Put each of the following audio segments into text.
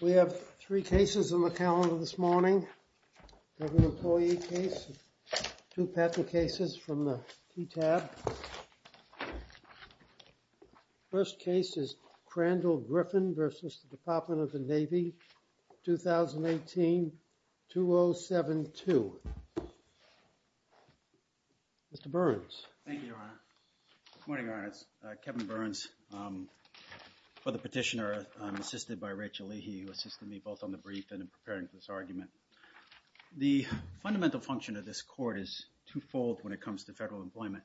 We have three cases on the calendar this morning, an employee case, two patent cases from the TTAB. The first case is Crandall Griffin v. Department of the Navy, 2018-2072. The second case is Kevin Burns v. Department of the Navy, 2018-2072. The fundamental function of this Court is two-fold when it comes to federal employment,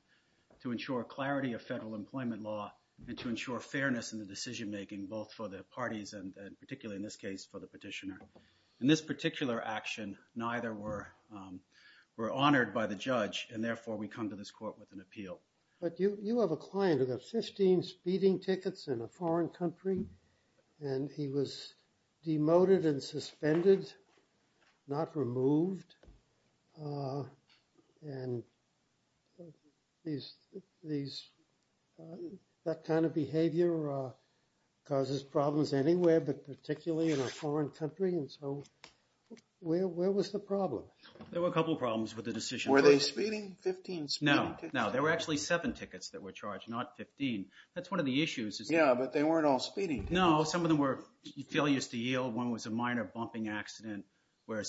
to ensure clarity of federal employment law and to ensure fairness in the decision-making both for the parties and particularly in this case for the petitioner. In this particular action, neither were honored by the judge and therefore we come to this Court with an appeal. But you have a client who got 15 speeding tickets in a foreign country and he was demoted and suspended, not removed, and that kind of behavior causes problems anywhere but particularly in a foreign country, and so where was the problem? There were a couple of problems with the decision. Were they speeding, 15 speeding tickets? No, no. There were actually seven tickets that were charged, not 15. That's one of the issues. Yeah, but they weren't all speeding tickets. No. Some of them were failures to yield, one was a minor bumping accident where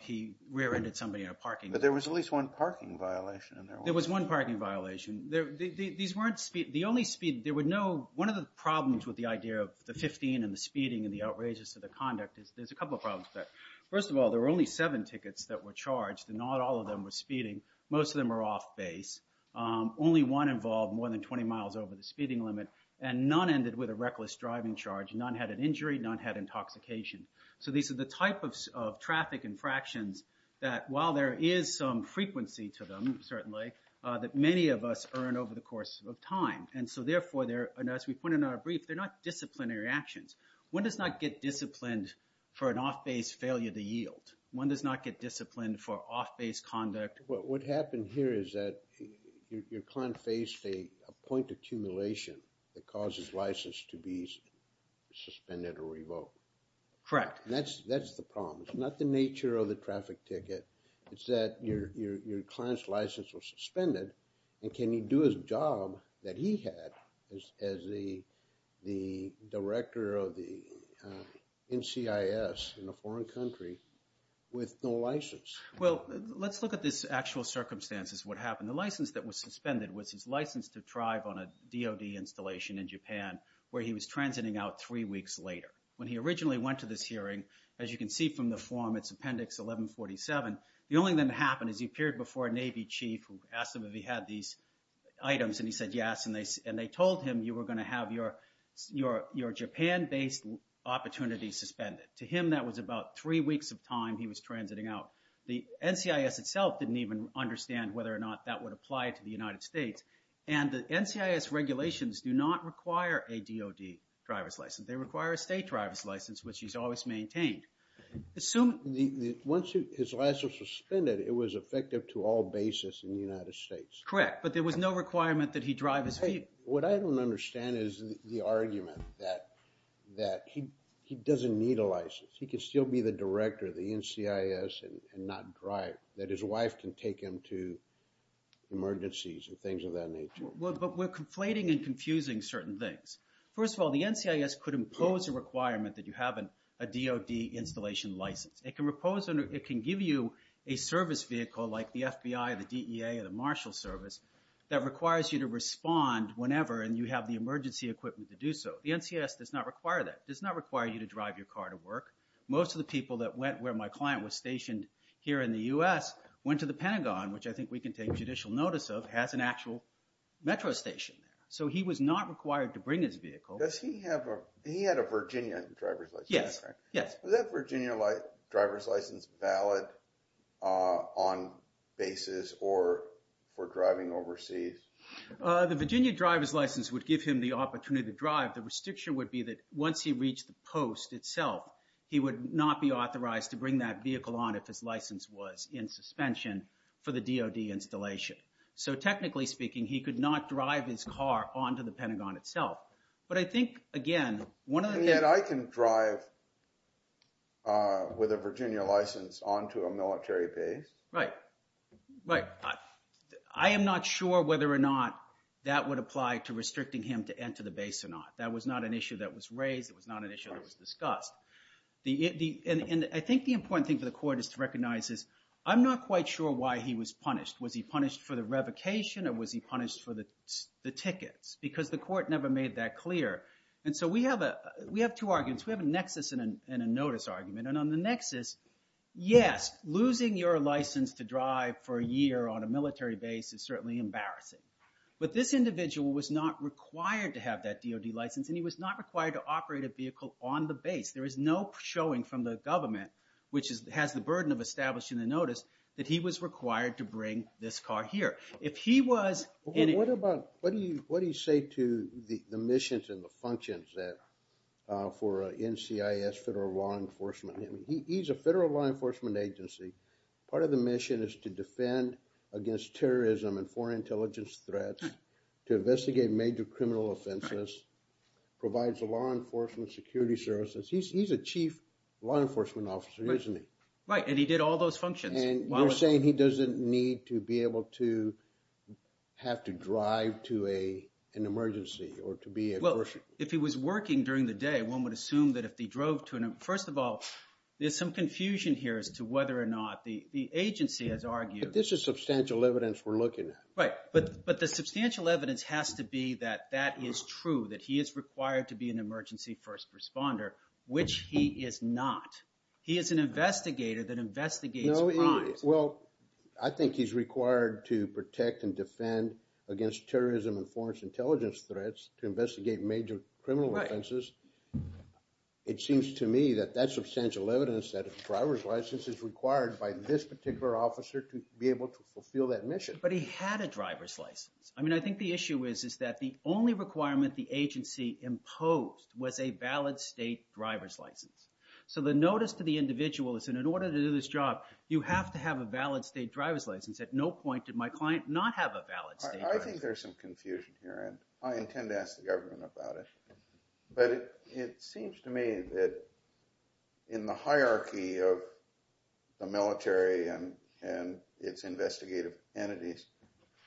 he rear-ended somebody in a parking lot. But there was at least one parking violation in there, wasn't there? There was one parking violation. These weren't speed, the only speed, there were no, one of the problems with the idea of the 15 and the speeding and the outrageous of the conduct is there's a couple of problems with that. First of all, there were only seven tickets that were charged and not all of them were speeding. Most of them were off base. Only one involved more than 20 miles over the speeding limit and none ended with a reckless driving charge. None had an injury, none had intoxication. So these are the type of traffic infractions that while there is some frequency to them, certainly, that many of us earn over the course of time. And so therefore, as we put in our brief, they're not disciplinary actions. One does not get disciplined for an off-base failure to yield. One does not get disciplined for off-base conduct. What happened here is that your client faced a point of accumulation that caused his license to be suspended or revoked. Correct. And that's the problem. It's not the nature of the traffic ticket, it's that your client's license was suspended and can he do his job that he had as the director of the NCIS in a foreign country with no license? Well, let's look at this actual circumstances of what happened. The license that was suspended was his license to drive on a DOD installation in Japan where he was transiting out three weeks later. When he originally went to this hearing, as you can see from the form, it's Appendix 1147, the only thing that happened is he appeared before a Navy chief who asked him if he had these items and he said yes, and they told him you were going to have your Japan-based opportunity suspended. To him, that was about three weeks of time he was transiting out. The NCIS itself didn't even understand whether or not that would apply to the United States. And the NCIS regulations do not require a DOD driver's license. They require a state driver's license, which he's always maintained. Assume... Once his license was suspended, it was effective to all bases in the United States. Correct, but there was no requirement that he drive his vehicle. What I don't understand is the argument that he doesn't need a license. He can still be the director of the NCIS and not drive, that his wife can take him to emergencies and things of that nature. But we're conflating and confusing certain things. First of all, the NCIS could impose a requirement that you have a DOD installation license. It can give you a service vehicle like the FBI, the DEA, or the Marshal Service that requires you to respond whenever and you have the emergency equipment to do so. The NCIS does not require that, does not require you to drive your car to work. Most of the people that went where my client was stationed here in the U.S. went to the Pentagon, which I think we can take judicial notice of, has an actual metro station. So he was not required to bring his vehicle. Does he have a, he had a Virginia driver's license, right? Yes, yes. Was that Virginia driver's license valid on bases or for driving overseas? The Virginia driver's license would give him the opportunity to drive. The restriction would be that once he reached the post itself, he would not be authorized to bring that vehicle on if his license was in suspension for the DOD installation. So technically speaking, he could not drive his car on to the Pentagon itself. But I think, again, one of the things... And yet I can drive with a Virginia license on to a military base. Right, right. I am not sure whether or not that would apply to restricting him to enter the base or not. That was not an issue that was raised. It was not an issue that was discussed. And I think the important thing for the court is to recognize is I'm not quite sure why he was punished. Was he punished for the revocation or was he punished for the tickets? Because the court never made that clear. And so we have two arguments. We have a nexus and a notice argument. And on the nexus, yes, losing your license to drive for a year on a military base is certainly embarrassing. But this individual was not required to have that DOD license and he was not required to operate a vehicle on the base. There is no showing from the government, which has the burden of establishing the notice, that he was required to bring this car here. If he was... Well, what about... What do you say to the missions and the functions for NCIS, Federal Law Enforcement? He's a federal law enforcement agency. Part of the mission is to defend against terrorism and foreign intelligence threats, to investigate major criminal offenses, provides law enforcement security services. He's a chief law enforcement officer, isn't he? Right. And he did all those functions. And you're saying he doesn't need to be able to have to drive to an emergency or to be a person? Well, if he was working during the day, one would assume that if he drove to an... First of all, there's some confusion here as to whether or not the agency has argued... But this is substantial evidence we're looking at. Right. But the substantial evidence has to be that that is true, that he is required to be an emergency first responder, which he is not. He is an investigator that investigates crimes. Well, I think he's required to protect and defend against terrorism and foreign intelligence threats to investigate major criminal offenses. It seems to me that that's substantial evidence that a driver's license is required by this particular officer to be able to fulfill that mission. But he had a driver's license. I mean, I think the issue is that the only requirement the agency imposed was a valid state driver's license. So the notice to the individual is, in order to do this job, you have to have a valid state driver's license. At no point did my client not have a valid state driver's license. I think there's some confusion here, and I intend to ask the government about it. But it seems to me that in the hierarchy of the military and its investigative entities,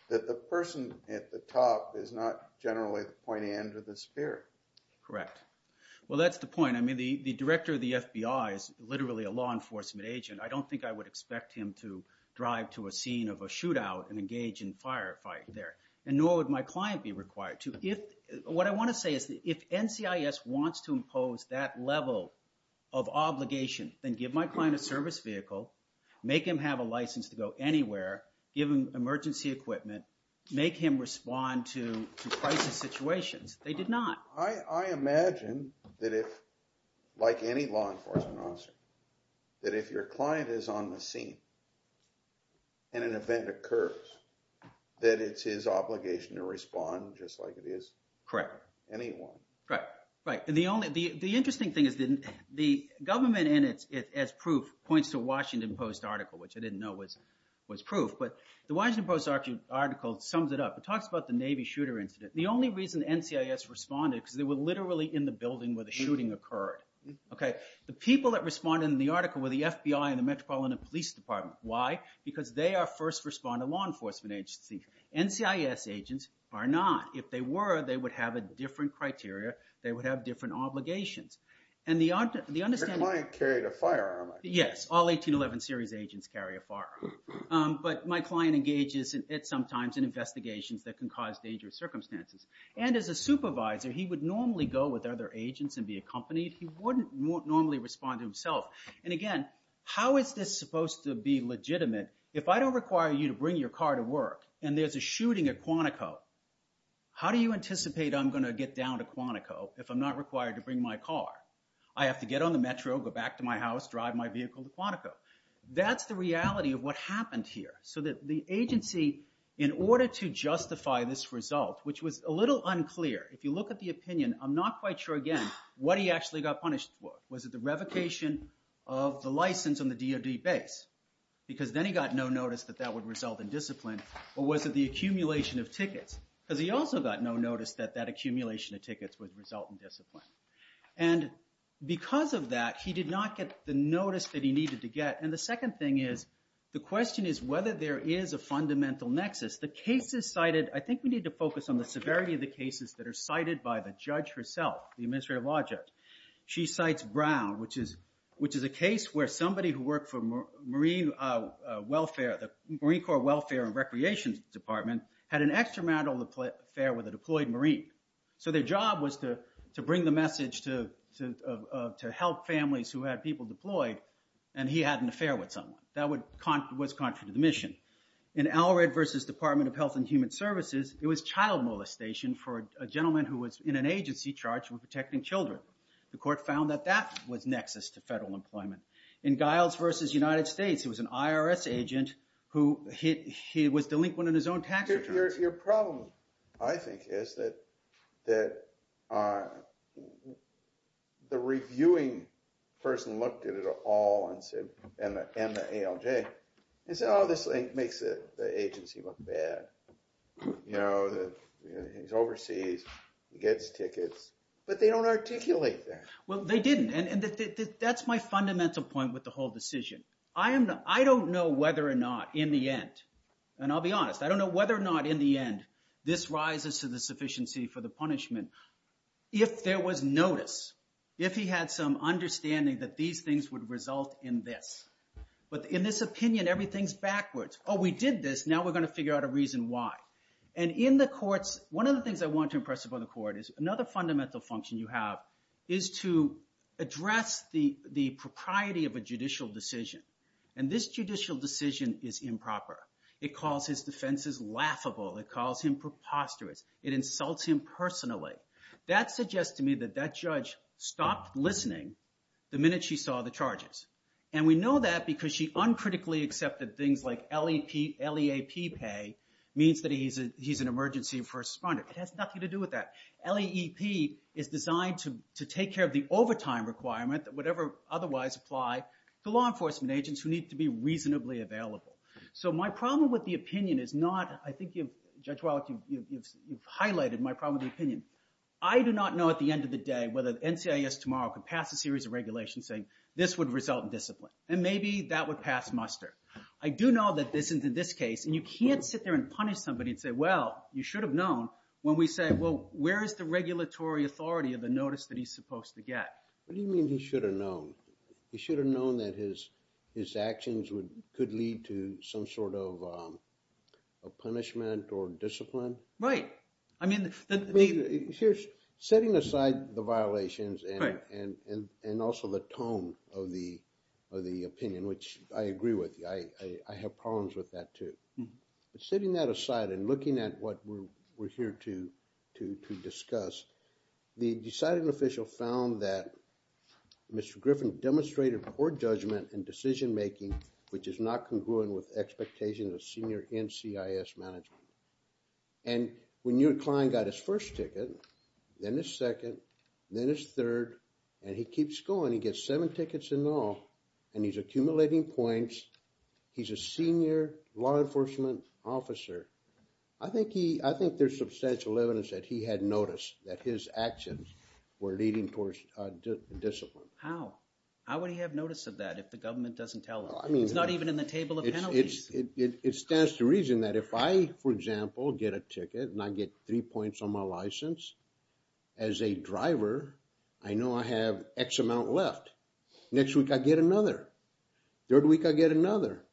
that the person at the top is not generally the pointy end of the spear. Correct. Well, that's the point. I mean, the director of the FBI is literally a law enforcement agent. I don't think I would expect him to drive to a scene of a shootout and engage in firefight there. And nor would my client be required to. What I want to say is that if NCIS wants to impose that level of obligation, then give my client a service vehicle, make him have a license to go anywhere, give him emergency equipment, make him respond to crisis situations. They did not. I imagine that if, like any law enforcement officer, that if your client is on the scene and an event occurs, that it's his obligation to respond just like it is anyone. Correct. Correct. Right. And the only, the interesting thing is that the government in it, as proof, points to a Washington Post article, which I didn't know was proof, but the Washington Post article sums it up. It talks about the Navy shooter incident. The only reason NCIS responded, because they were literally in the building where the shooting occurred. Okay. The people that responded in the article were the FBI and the Metropolitan Police Department. Why? Because they are first responder law enforcement agencies. NCIS agents are not. If they were, they would have a different criteria. They would have different obligations. And the understanding- Your client carried a firearm, I guess. Yes. All 1811 series agents carry a firearm. But my client engages in it sometimes in investigations that can cause dangerous circumstances. And as a supervisor, he would normally go with other agents and be accompanied. He wouldn't normally respond to himself. And again, how is this supposed to be legitimate? If I don't require you to bring your car to work and there's a shooting at Quantico, how do you anticipate I'm going to get down to Quantico if I'm not required to bring my car? I have to get on the Metro, go back to my house, drive my vehicle to Quantico. That's the reality of what happened here. So that the agency, in order to justify this result, which was a little unclear, if you look at the opinion, I'm not quite sure, again, what he actually got punished for. Was it the revocation of the license on the DOD base? Because then he got no notice that that would result in discipline, or was it the accumulation of tickets? Because he also got no notice that that accumulation of tickets would result in discipline. And because of that, he did not get the notice that he needed to get. And the second thing is, the question is whether there is a fundamental nexus. The cases cited, I think we need to focus on the severity of the cases that are cited by the judge herself, the administrative object. She cites Brown, which is a case where somebody who worked for Marine Welfare, the Marine Corps Welfare and Recreation Department, had an extramarital affair with a deployed Marine. So their job was to bring the message to help families who had people deployed, and he had an affair with someone. That was contrary to the mission. In Allred v. Department of Health and Human Services, it was child molestation for a gentleman who was in an agency charged with protecting children. The court found that that was nexus to federal employment. In Giles v. United States, it was an IRS agent who was delinquent in his own tax returns. Your problem, I think, is that the reviewing person looked at it all and said, and the ALJ, and said, oh, this makes the agency look bad, you know, he's overseas, he gets tickets, but they don't articulate that. Well, they didn't, and that's my fundamental point with the whole decision. I don't know whether or not, in the end, and I'll be honest, I don't know whether or not in the end, this rises to the sufficiency for the punishment. If there was notice, if he had some understanding that these things would result in this. But in this opinion, everything's backwards. Oh, we did this, now we're going to figure out a reason why. And in the courts, one of the things I want to impress upon the court is another fundamental function you have is to address the propriety of a judicial decision. And this judicial decision is improper. It calls his defenses laughable, it calls him preposterous, it insults him personally. That suggests to me that that judge stopped listening the minute she saw the charges. And we know that because she uncritically accepted things like LEP, LEAP pay, means that he's an emergency first responder. It has nothing to do with that. LEEP is designed to take care of the overtime requirement that would otherwise apply to law enforcement agents who need to be reasonably available. So my problem with the opinion is not, I think you've, Judge Wallach, you've highlighted my problem with the opinion. I do not know at the end of the day whether NCIS tomorrow could pass a series of regulations saying this would result in discipline. And maybe that would pass muster. I do know that this, in this case, and you can't sit there and punish somebody and say, well, you should have known when we say, well, where is the regulatory authority of the notice that he's supposed to get? What do you mean he should have known? He should have known that his actions could lead to some sort of a punishment or discipline. Right. I mean, the- Here's, setting aside the violations and also the tone of the opinion, which I agree with, I have problems with that too. Setting that aside and looking at what we're here to discuss, the deciding official found that Mr. Griffin demonstrated poor judgment and decision making, which is not congruent with expectations of senior NCIS management. And when your client got his first ticket, then his second, then his third, and he keeps going, he gets seven tickets in all, and he's accumulating points. He's a senior law enforcement officer. I think he, I think there's substantial evidence that he had noticed that his actions were leading towards discipline. How? How would he have noticed that if the government doesn't tell him? I mean- It's not even in the table of penalties. It stands to reason that if I, for example, get a ticket and I get three points on my license as a driver, I know I have X amount left. Next week I get another. Third week I get another.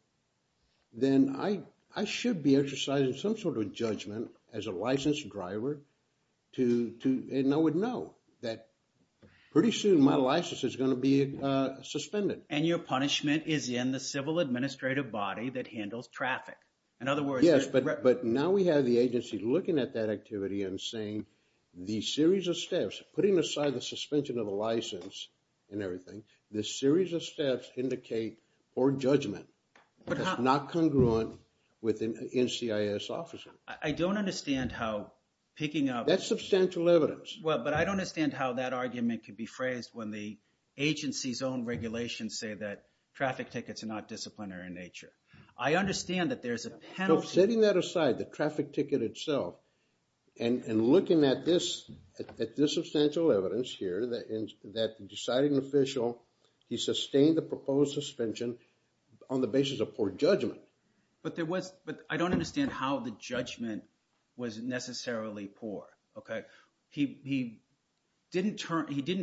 Then I should be exercising some sort of judgment as a licensed driver to, and I would know that pretty soon my license is going to be suspended. And your punishment is in the civil administrative body that handles traffic. In other words- Yes, but now we have the agency looking at that activity and saying the series of steps, putting aside the suspension of a license and everything, the series of steps indicate poor judgment. But how- It's not congruent with an NCIS officer. I don't understand how picking up- That's substantial evidence. Well, but I don't understand how that argument could be phrased when the agency's own regulations say that traffic tickets are not disciplinary in nature. I understand that there's a penalty- So setting that aside, the traffic ticket itself, and looking at this substantial evidence here that the deciding official, he sustained the proposed suspension on the basis of poor judgment. But there was- But I don't understand how the judgment was necessarily poor, okay? He didn't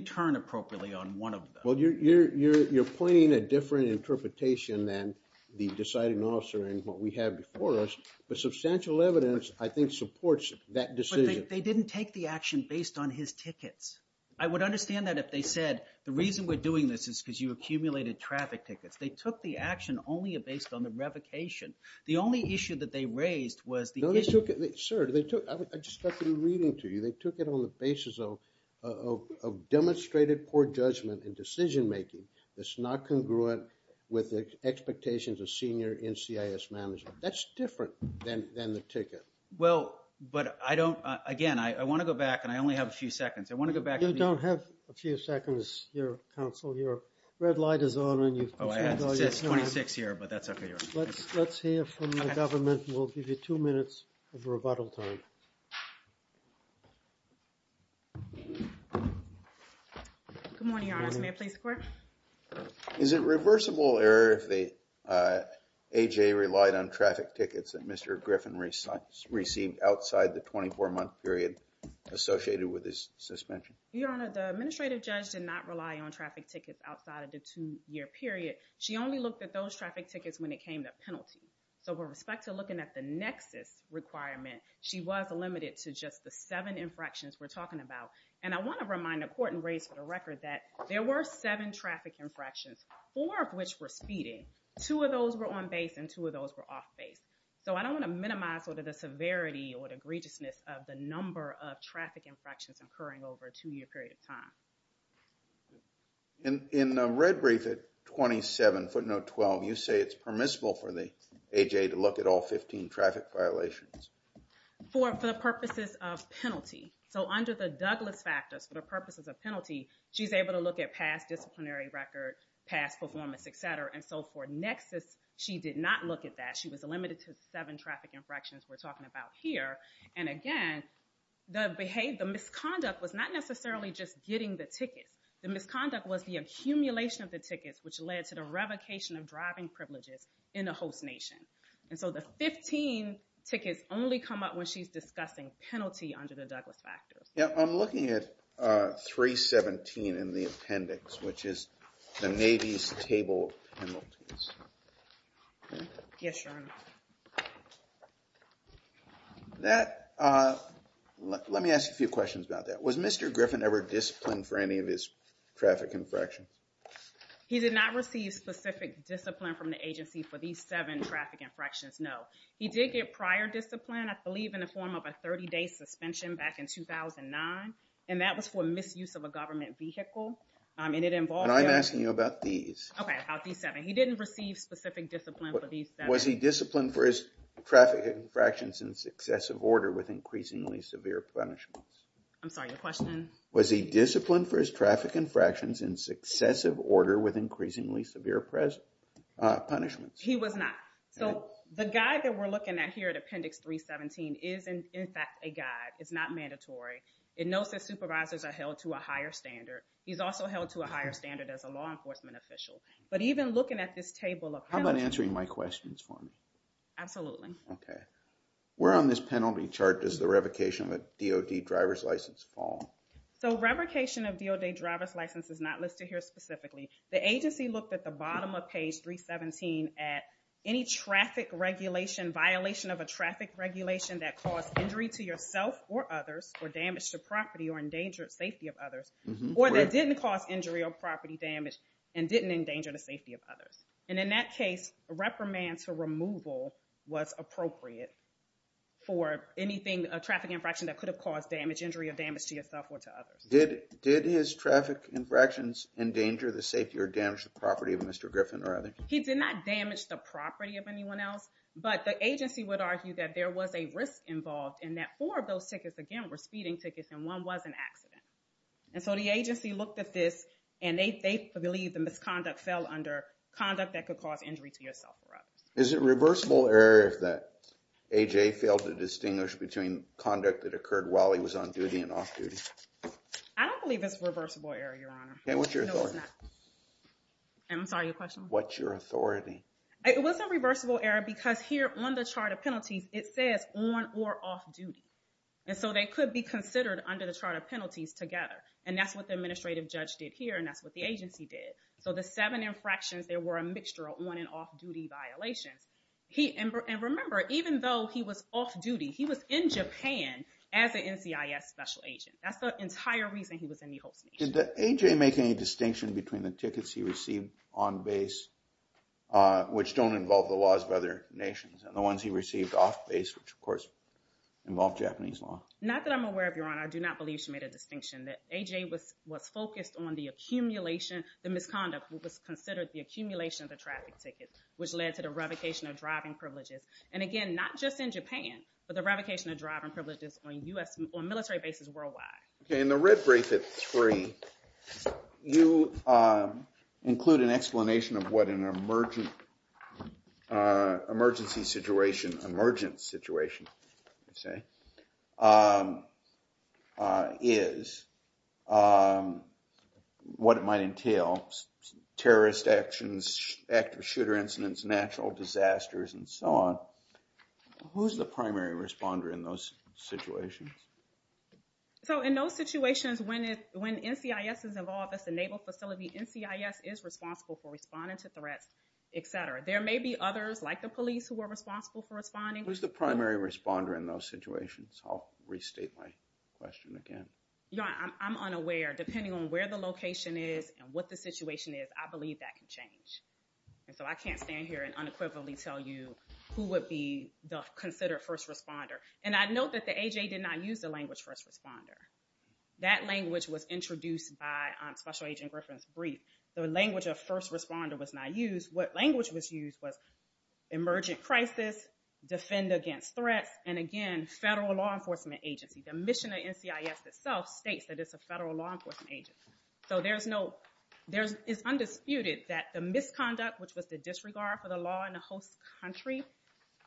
turn appropriately on one of them. Well, you're pointing a different interpretation than the deciding officer and what we have before us. But substantial evidence, I think, supports that decision. But they didn't take the action based on his tickets. I would understand that if they said, the reason we're doing this is because you accumulated traffic tickets. They took the action only based on the revocation. The only issue that they raised was the- No, they took it- Sir, they took- I just started reading to you. They took it on the basis of demonstrated poor judgment in decision-making that's not congruent with the expectations of senior NCIS management. That's different than the ticket. Well, but I don't- Again, I want to go back, and I only have a few seconds. I want to go back to the- You don't have a few seconds here, counsel. Your red light is on, and you've confirmed all your- Oh, I have. It says 26 here, but that's okay. Let's hear from the government. We'll give you two minutes of rebuttal time. Good morning, your honors. May I please the court? Is it reversible error if the AJ relied on traffic tickets that Mr. Griffin received outside the 24-month period associated with his suspension? Your honor, the administrative judge did not rely on traffic tickets outside of the two-year period. She only looked at those traffic tickets when it came to penalty. So, with respect to looking at the Nexus requirement, she was limited to just the seven infractions we're talking about. And I want to remind the court and raise for the record that there were seven traffic infractions, four of which were speeding, two of those were on-base, and two of those were off-base. So, I don't want to minimize sort of the severity or the egregiousness of the number of traffic infractions occurring over a two-year period of time. In the red brief at 27, footnote 12, you say it's permissible for the AJ to look at all 15 traffic violations? For the purposes of penalty. So, under the Douglas factors, for the purposes of penalty, she's able to look at past disciplinary record, past performance, et cetera. And so, for Nexus, she did not look at that. She was limited to seven traffic infractions we're talking about here. And again, the misconduct was not necessarily just getting the tickets. The misconduct was the accumulation of the tickets, which led to the revocation of driving privileges in a host nation. And so, the 15 tickets only come up when she's discussing penalty under the Douglas factors. Yeah, I'm looking at 317 in the appendix, which is the Navy's table of penalties. Yes, Your Honor. That, let me ask you a few questions about that. Was Mr. Griffin ever disciplined for any of his traffic infractions? He did not receive specific discipline from the agency for these seven traffic infractions, no. He did get prior discipline, I believe in the form of a 30-day suspension back in 2009. And that was for misuse of a government vehicle. And it involved... And I'm asking you about these. Okay, about these seven. He didn't receive specific discipline for these seven. Was he disciplined for his traffic infractions in successive order with increasingly severe punishments? I'm sorry, your question? Was he disciplined for his traffic infractions in successive order with increasingly severe punishments? He was not. So, the guide that we're looking at here at Appendix 317 is in fact a guide. It's not mandatory. It knows that supervisors are held to a higher standard. He's also held to a higher standard as a law enforcement official. But even looking at this table of penalties... How about answering my questions for me? Absolutely. Okay. Where on this penalty chart does the revocation of a DOD driver's license fall? So revocation of DOD driver's license is not listed here specifically. The agency looked at the bottom of page 317 at any traffic regulation, violation of a traffic regulation that caused injury to yourself or others, or damage to property or endangered safety of others, or that didn't cause injury or property damage and didn't endanger the safety of others. And in that case, a reprimand to removal was appropriate for anything, a traffic infraction that could have caused damage, injury or damage to yourself or to others. Did his traffic infractions endanger the safety or damage the property of Mr. Griffin or others? He did not damage the property of anyone else, but the agency would argue that there was a risk involved in that four of those tickets, again, were speeding tickets and one was an accident. And so the agency looked at this and they believe the misconduct fell under conduct that could cause injury to yourself or others. Is it reversible error that AJ failed to distinguish between conduct that occurred while he was on duty and off duty? I don't believe it's reversible error, Your Honor. Okay. What's your authority? I'm sorry. Your question? What's your authority? It wasn't reversible error because here on the chart of penalties, it says on or off duty. And so they could be considered under the chart of penalties together. And that's what the administrative judge did here and that's what the agency did. So the seven infractions, there were a mixture of on and off duty violations. And remember, even though he was off duty, he was in Japan as an NCIS special agent. That's the entire reason he was in the host nation. Did AJ make any distinction between the tickets he received on base, which don't involve the major nations, and the ones he received off base, which, of course, involve Japanese law? Not that I'm aware of, Your Honor. I do not believe she made a distinction that AJ was focused on the accumulation, the misconduct that was considered the accumulation of the traffic ticket, which led to the revocation of driving privileges. And again, not just in Japan, but the revocation of driving privileges on military bases worldwide. Okay, in the red brief at three, you include an explanation of what an emergency situation, emergent situation, you say, is, what it might entail, terrorist actions, active shooter incidents, natural disasters, and so on. Who's the primary responder in those situations? So, in those situations, when NCIS is involved, that's a naval facility, NCIS is responsible for responding to threats, et cetera. There may be others, like the police, who are responsible for responding. Who's the primary responder in those situations? I'll restate my question again. Your Honor, I'm unaware, depending on where the location is and what the situation is, I believe that can change. And so, I can't stand here and unequivocally tell you who would be the considered first responder. And I'd note that the AJA did not use the language first responder. That language was introduced by Special Agent Griffin's brief. The language of first responder was not used. What language was used was emergent crisis, defend against threats, and again, federal law enforcement agency. The mission of NCIS itself states that it's a federal law enforcement agency. So there's no, it's undisputed that the misconduct, which was the disregard for the law in a host country,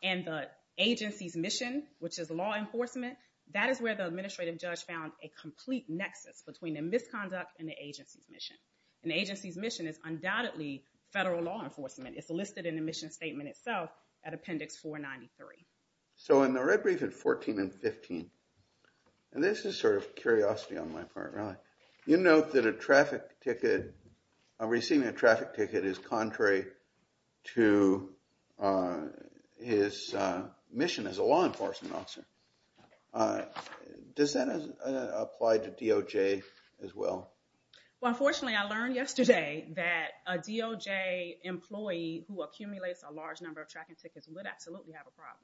and the agency's mission, which is law enforcement, that is where the administrative judge found a complete nexus between the misconduct and the agency's mission. And the agency's mission is undoubtedly federal law enforcement. It's listed in the mission statement itself at Appendix 493. So in the red brief at 14 and 15, and this is sort of curiosity on my part, really. You note that a traffic ticket, receiving a traffic ticket is contrary to his mission as a law enforcement officer. Does that apply to DOJ as well? Well, unfortunately, I learned yesterday that a DOJ employee who accumulates a large number of tracking tickets would absolutely have a problem,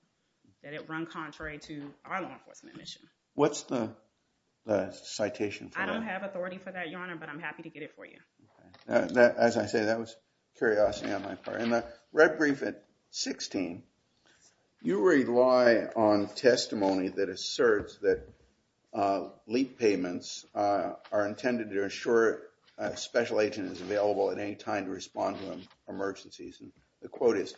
that it run contrary to our law enforcement mission. What's the citation for that? I don't have authority for that, Your Honor, but I'm happy to get it for you. As I say, that was curiosity on my part. In the red brief at 16, you rely on testimony that asserts that LEAP payments are intended to ensure a special agent is available at any time to respond to emergencies. The quote is,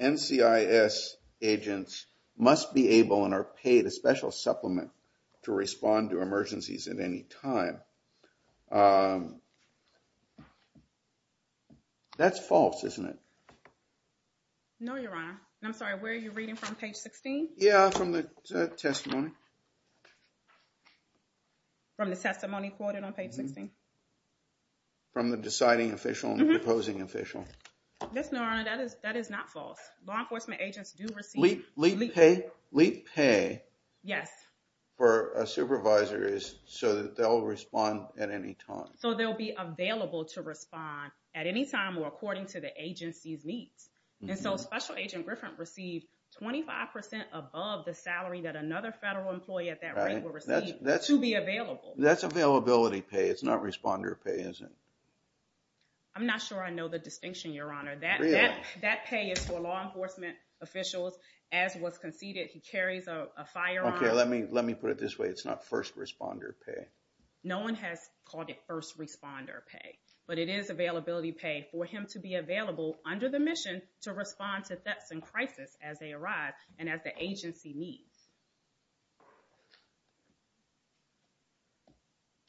NCIS agents must be able and are paid a special supplement to respond to emergencies at any time. That's false, isn't it? No, Your Honor. I'm sorry. Where are you reading from? Page 16? Yeah, from the testimony. From the testimony quoted on page 16? From the deciding official and the opposing official. Yes, Your Honor, that is not false. Law enforcement agents do receive LEAP pay. LEAP pay for a supervisor is so that they'll respond at any time. So they'll be available to respond at any time or according to the agency's needs. And so special agent Griffin received 25% above the salary that another federal employee at that rate will receive to be available. That's availability pay. It's not responder pay, is it? I'm not sure I know the distinction, Your Honor. Really? That pay is for law enforcement officials. As was conceded, he carries a firearm. Okay, let me put it this way. It's not first responder pay. No one has called it first responder pay, but it is availability pay for him to be available under the mission to respond to thefts and crisis as they arrive and as the agency needs.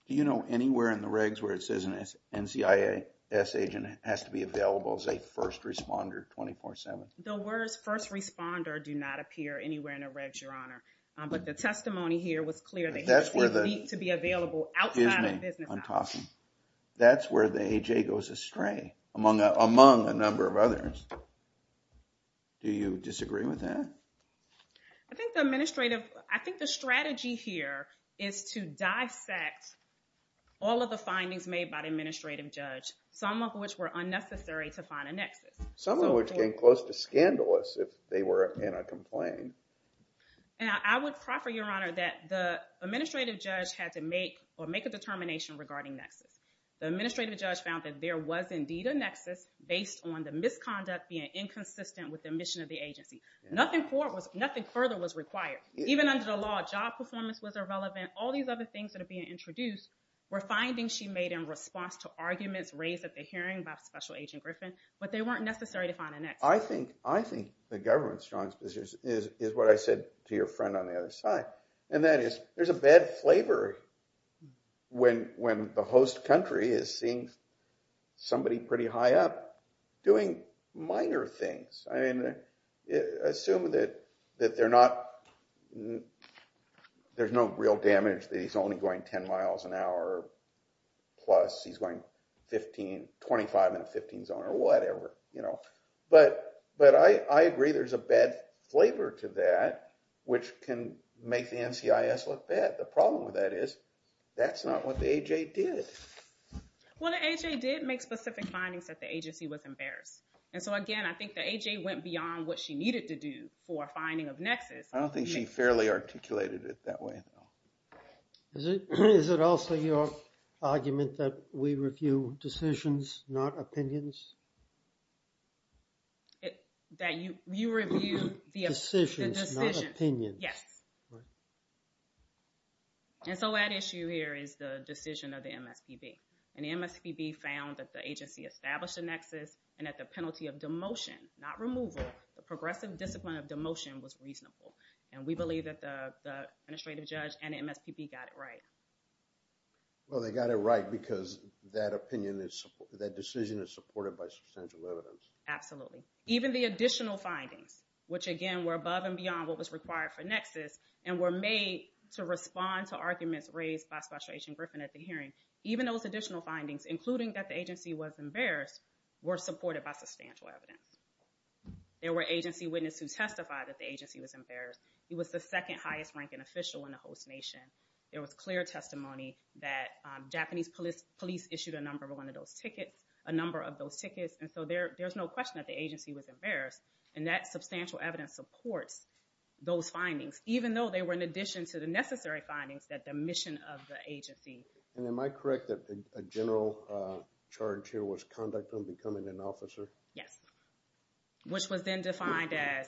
Do you know anywhere in the regs where it says an NCIS agent has to be available as a first responder 24-7? The words first responder do not appear anywhere in the regs, Your Honor. But the testimony here was clear that he needs to be available outside of business hours. Excuse me, I'm talking. That's where the AJ goes astray among a number of others. Do you disagree with that? I think the administrative, I think the strategy here is to dissect all of the findings made by the administrative judge, some of which were unnecessary to find a NCIS. Some of which came close to scandalous if they were in a complaint. I would proffer, Your Honor, that the administrative judge had to make or make a determination regarding NCIS. The administrative judge found that there was indeed a NCIS based on the misconduct being inconsistent with the mission of the agency. Nothing further was required. Even under the law, job performance was irrelevant. All these other things that are being introduced were findings she made in response to arguments raised at the hearing by Special Agent Griffin, but they weren't necessary to find a NCIS. I think the government's strong position is what I said to your friend on the other side. And that is, there's a bad flavor when the host country is seeing somebody pretty high up doing minor things. I mean, assume that they're not, there's no real damage, that he's only going 10 miles an hour plus, he's going 15, 25 in a 15 zone or whatever, you know. But I agree there's a bad flavor to that, which can make the NCIS look bad. The problem with that is, that's not what the AJ did. Well, the AJ did make specific findings that the agency was embarrassed. And so again, I think the AJ went beyond what she needed to do for a finding of NCIS. I don't think she fairly articulated it that way, though. Is it also your argument that we review decisions, not opinions? That you review the decisions, not opinions. Yes. And so, at issue here is the decision of the MSPB, and the MSPB found that the agency established a NCIS, and that the penalty of demotion, not removal, the progressive discipline of demotion was reasonable. And we believe that the administrative judge and the MSPB got it right. Well, they got it right because that opinion is, that decision is supported by substantial evidence. Absolutely. Even the additional findings, which again, were above and beyond what was required for NCIS, and were made to respond to arguments raised by Spatial Agent Griffin at the hearing. Even those additional findings, including that the agency was embarrassed, were supported by substantial evidence. There were agency witnesses who testified that the agency was embarrassed. He was the second highest ranking official in the host nation. There was clear testimony that Japanese police issued a number of one of those tickets, a number of those tickets. And so, there's no question that the agency was embarrassed. And that substantial evidence supports those findings, even though they were in addition to the necessary findings that the mission of the agency. And am I correct that a general charge here was conduct on becoming an officer? Yes. Which was then defined as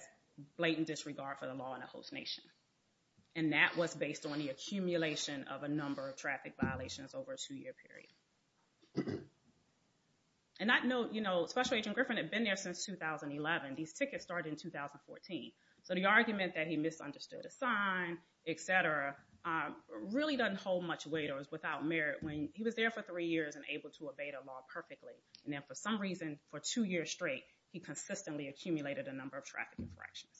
blatant disregard for the law in a host nation. And that was based on the accumulation of a number of traffic violations over a two-year period. And I know, you know, Spatial Agent Griffin had been there since 2011. These tickets started in 2014. So the argument that he misunderstood a sign, et cetera, really doesn't hold much weight or is without merit when he was there for three years and able to evade a law perfectly. And then for some reason, for two years straight, he consistently accumulated a number of traffic infractions.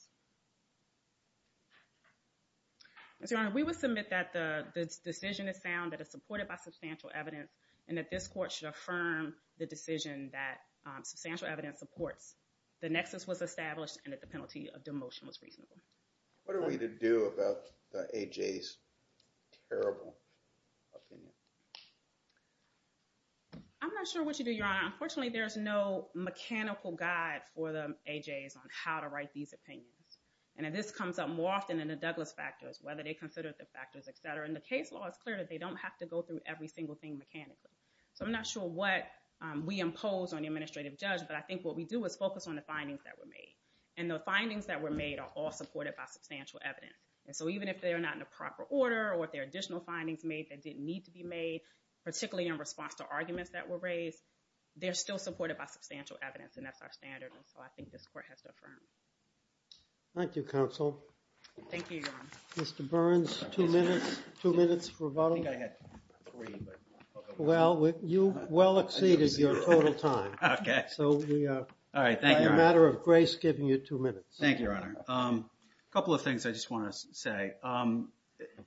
Mr. Honor, we would submit that the decision is sound, that it's supported by substantial evidence, and that this court should affirm the decision that substantial evidence supports the nexus was established and that the penalty of demotion was reasonable. What are we to do about the AJ's terrible opinion? I'm not sure what to do, Your Honor. Unfortunately, there is no mechanical guide for the AJs on how to write these opinions. And this comes up more often in the Douglas factors, whether they consider the factors, et cetera. In the case law, it's clear that they don't have to go through every single thing mechanically. So I'm not sure what we impose on the administrative judge, but I think what we do is focus on the findings that were made. And the findings that were made are all supported by substantial evidence. And so even if they're not in a proper order or if there are additional findings made that didn't need to be made, particularly in response to arguments that were raised, they're still supported by substantial evidence. And that's our standard. And so I think this court has to affirm. Thank you, counsel. Thank you, Your Honor. Mr. Burns, two minutes. Two minutes for voting. I think I had three, but I'll go with that. Well, you well exceeded your total time. Okay. All right, thank you, Your Honor. It's a matter of grace giving you two minutes. Thank you, Your Honor. A couple of things I just want to say.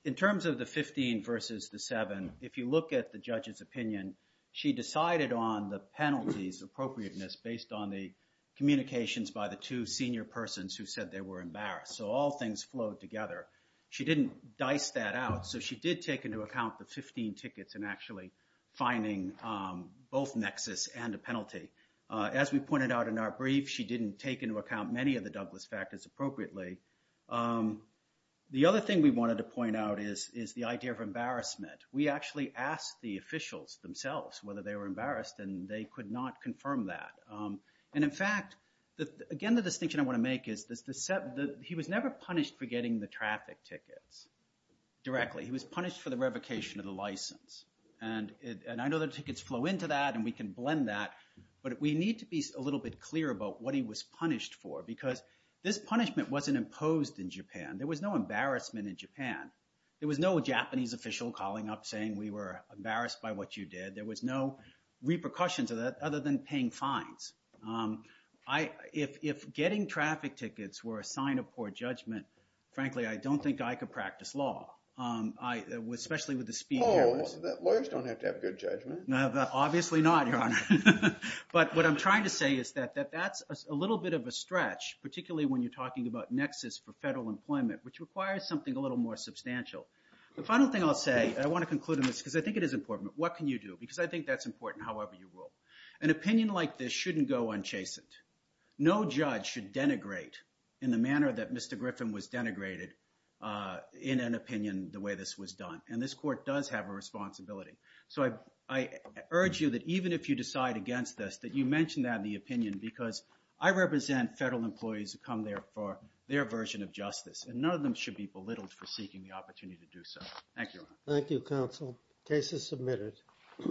In terms of the 15 versus the seven, if you look at the judge's opinion, she decided on the penalties appropriateness based on the communications by the two senior persons who said they were embarrassed. So all things flowed together. She didn't dice that out. So she did take into account the 15 tickets in actually finding both nexus and a penalty. As we pointed out in our brief, she didn't take into account many of the Douglas factors appropriately. The other thing we wanted to point out is the idea of embarrassment. We actually asked the officials themselves whether they were embarrassed, and they could not confirm that. And in fact, again, the distinction I want to make is he was never punished for getting the traffic tickets directly. He was punished for the revocation of the license. And I know that tickets flow into that, and we can blend that. But we need to be a little bit clearer about what he was punished for, because this punishment wasn't imposed in Japan. There was no embarrassment in Japan. There was no Japanese official calling up saying we were embarrassed by what you did. There was no repercussions of that other than paying fines. If getting traffic tickets were a sign of poor judgment, frankly, I don't think I could practice law, especially with the speed errors. Lawyers don't have to have good judgment. Obviously not, Your Honor. But what I'm trying to say is that that's a little bit of a stretch, particularly when you're talking about nexus for federal employment, which requires something a little more substantial. The final thing I'll say, and I want to conclude on this, because I think it is important. What can you do? Because I think that's important, however you rule. An opinion like this shouldn't go unchastened. No judge should denigrate in the manner that Mr. Griffin was denigrated in an opinion the way this was done. And this court does have a responsibility. So I urge you that even if you decide against this, that you mention that in the opinion because I represent federal employees who come there for their version of justice. And none of them should be belittled for seeking the opportunity to do so. Thank you, Your Honor. Thank you, counsel. Case is submitted.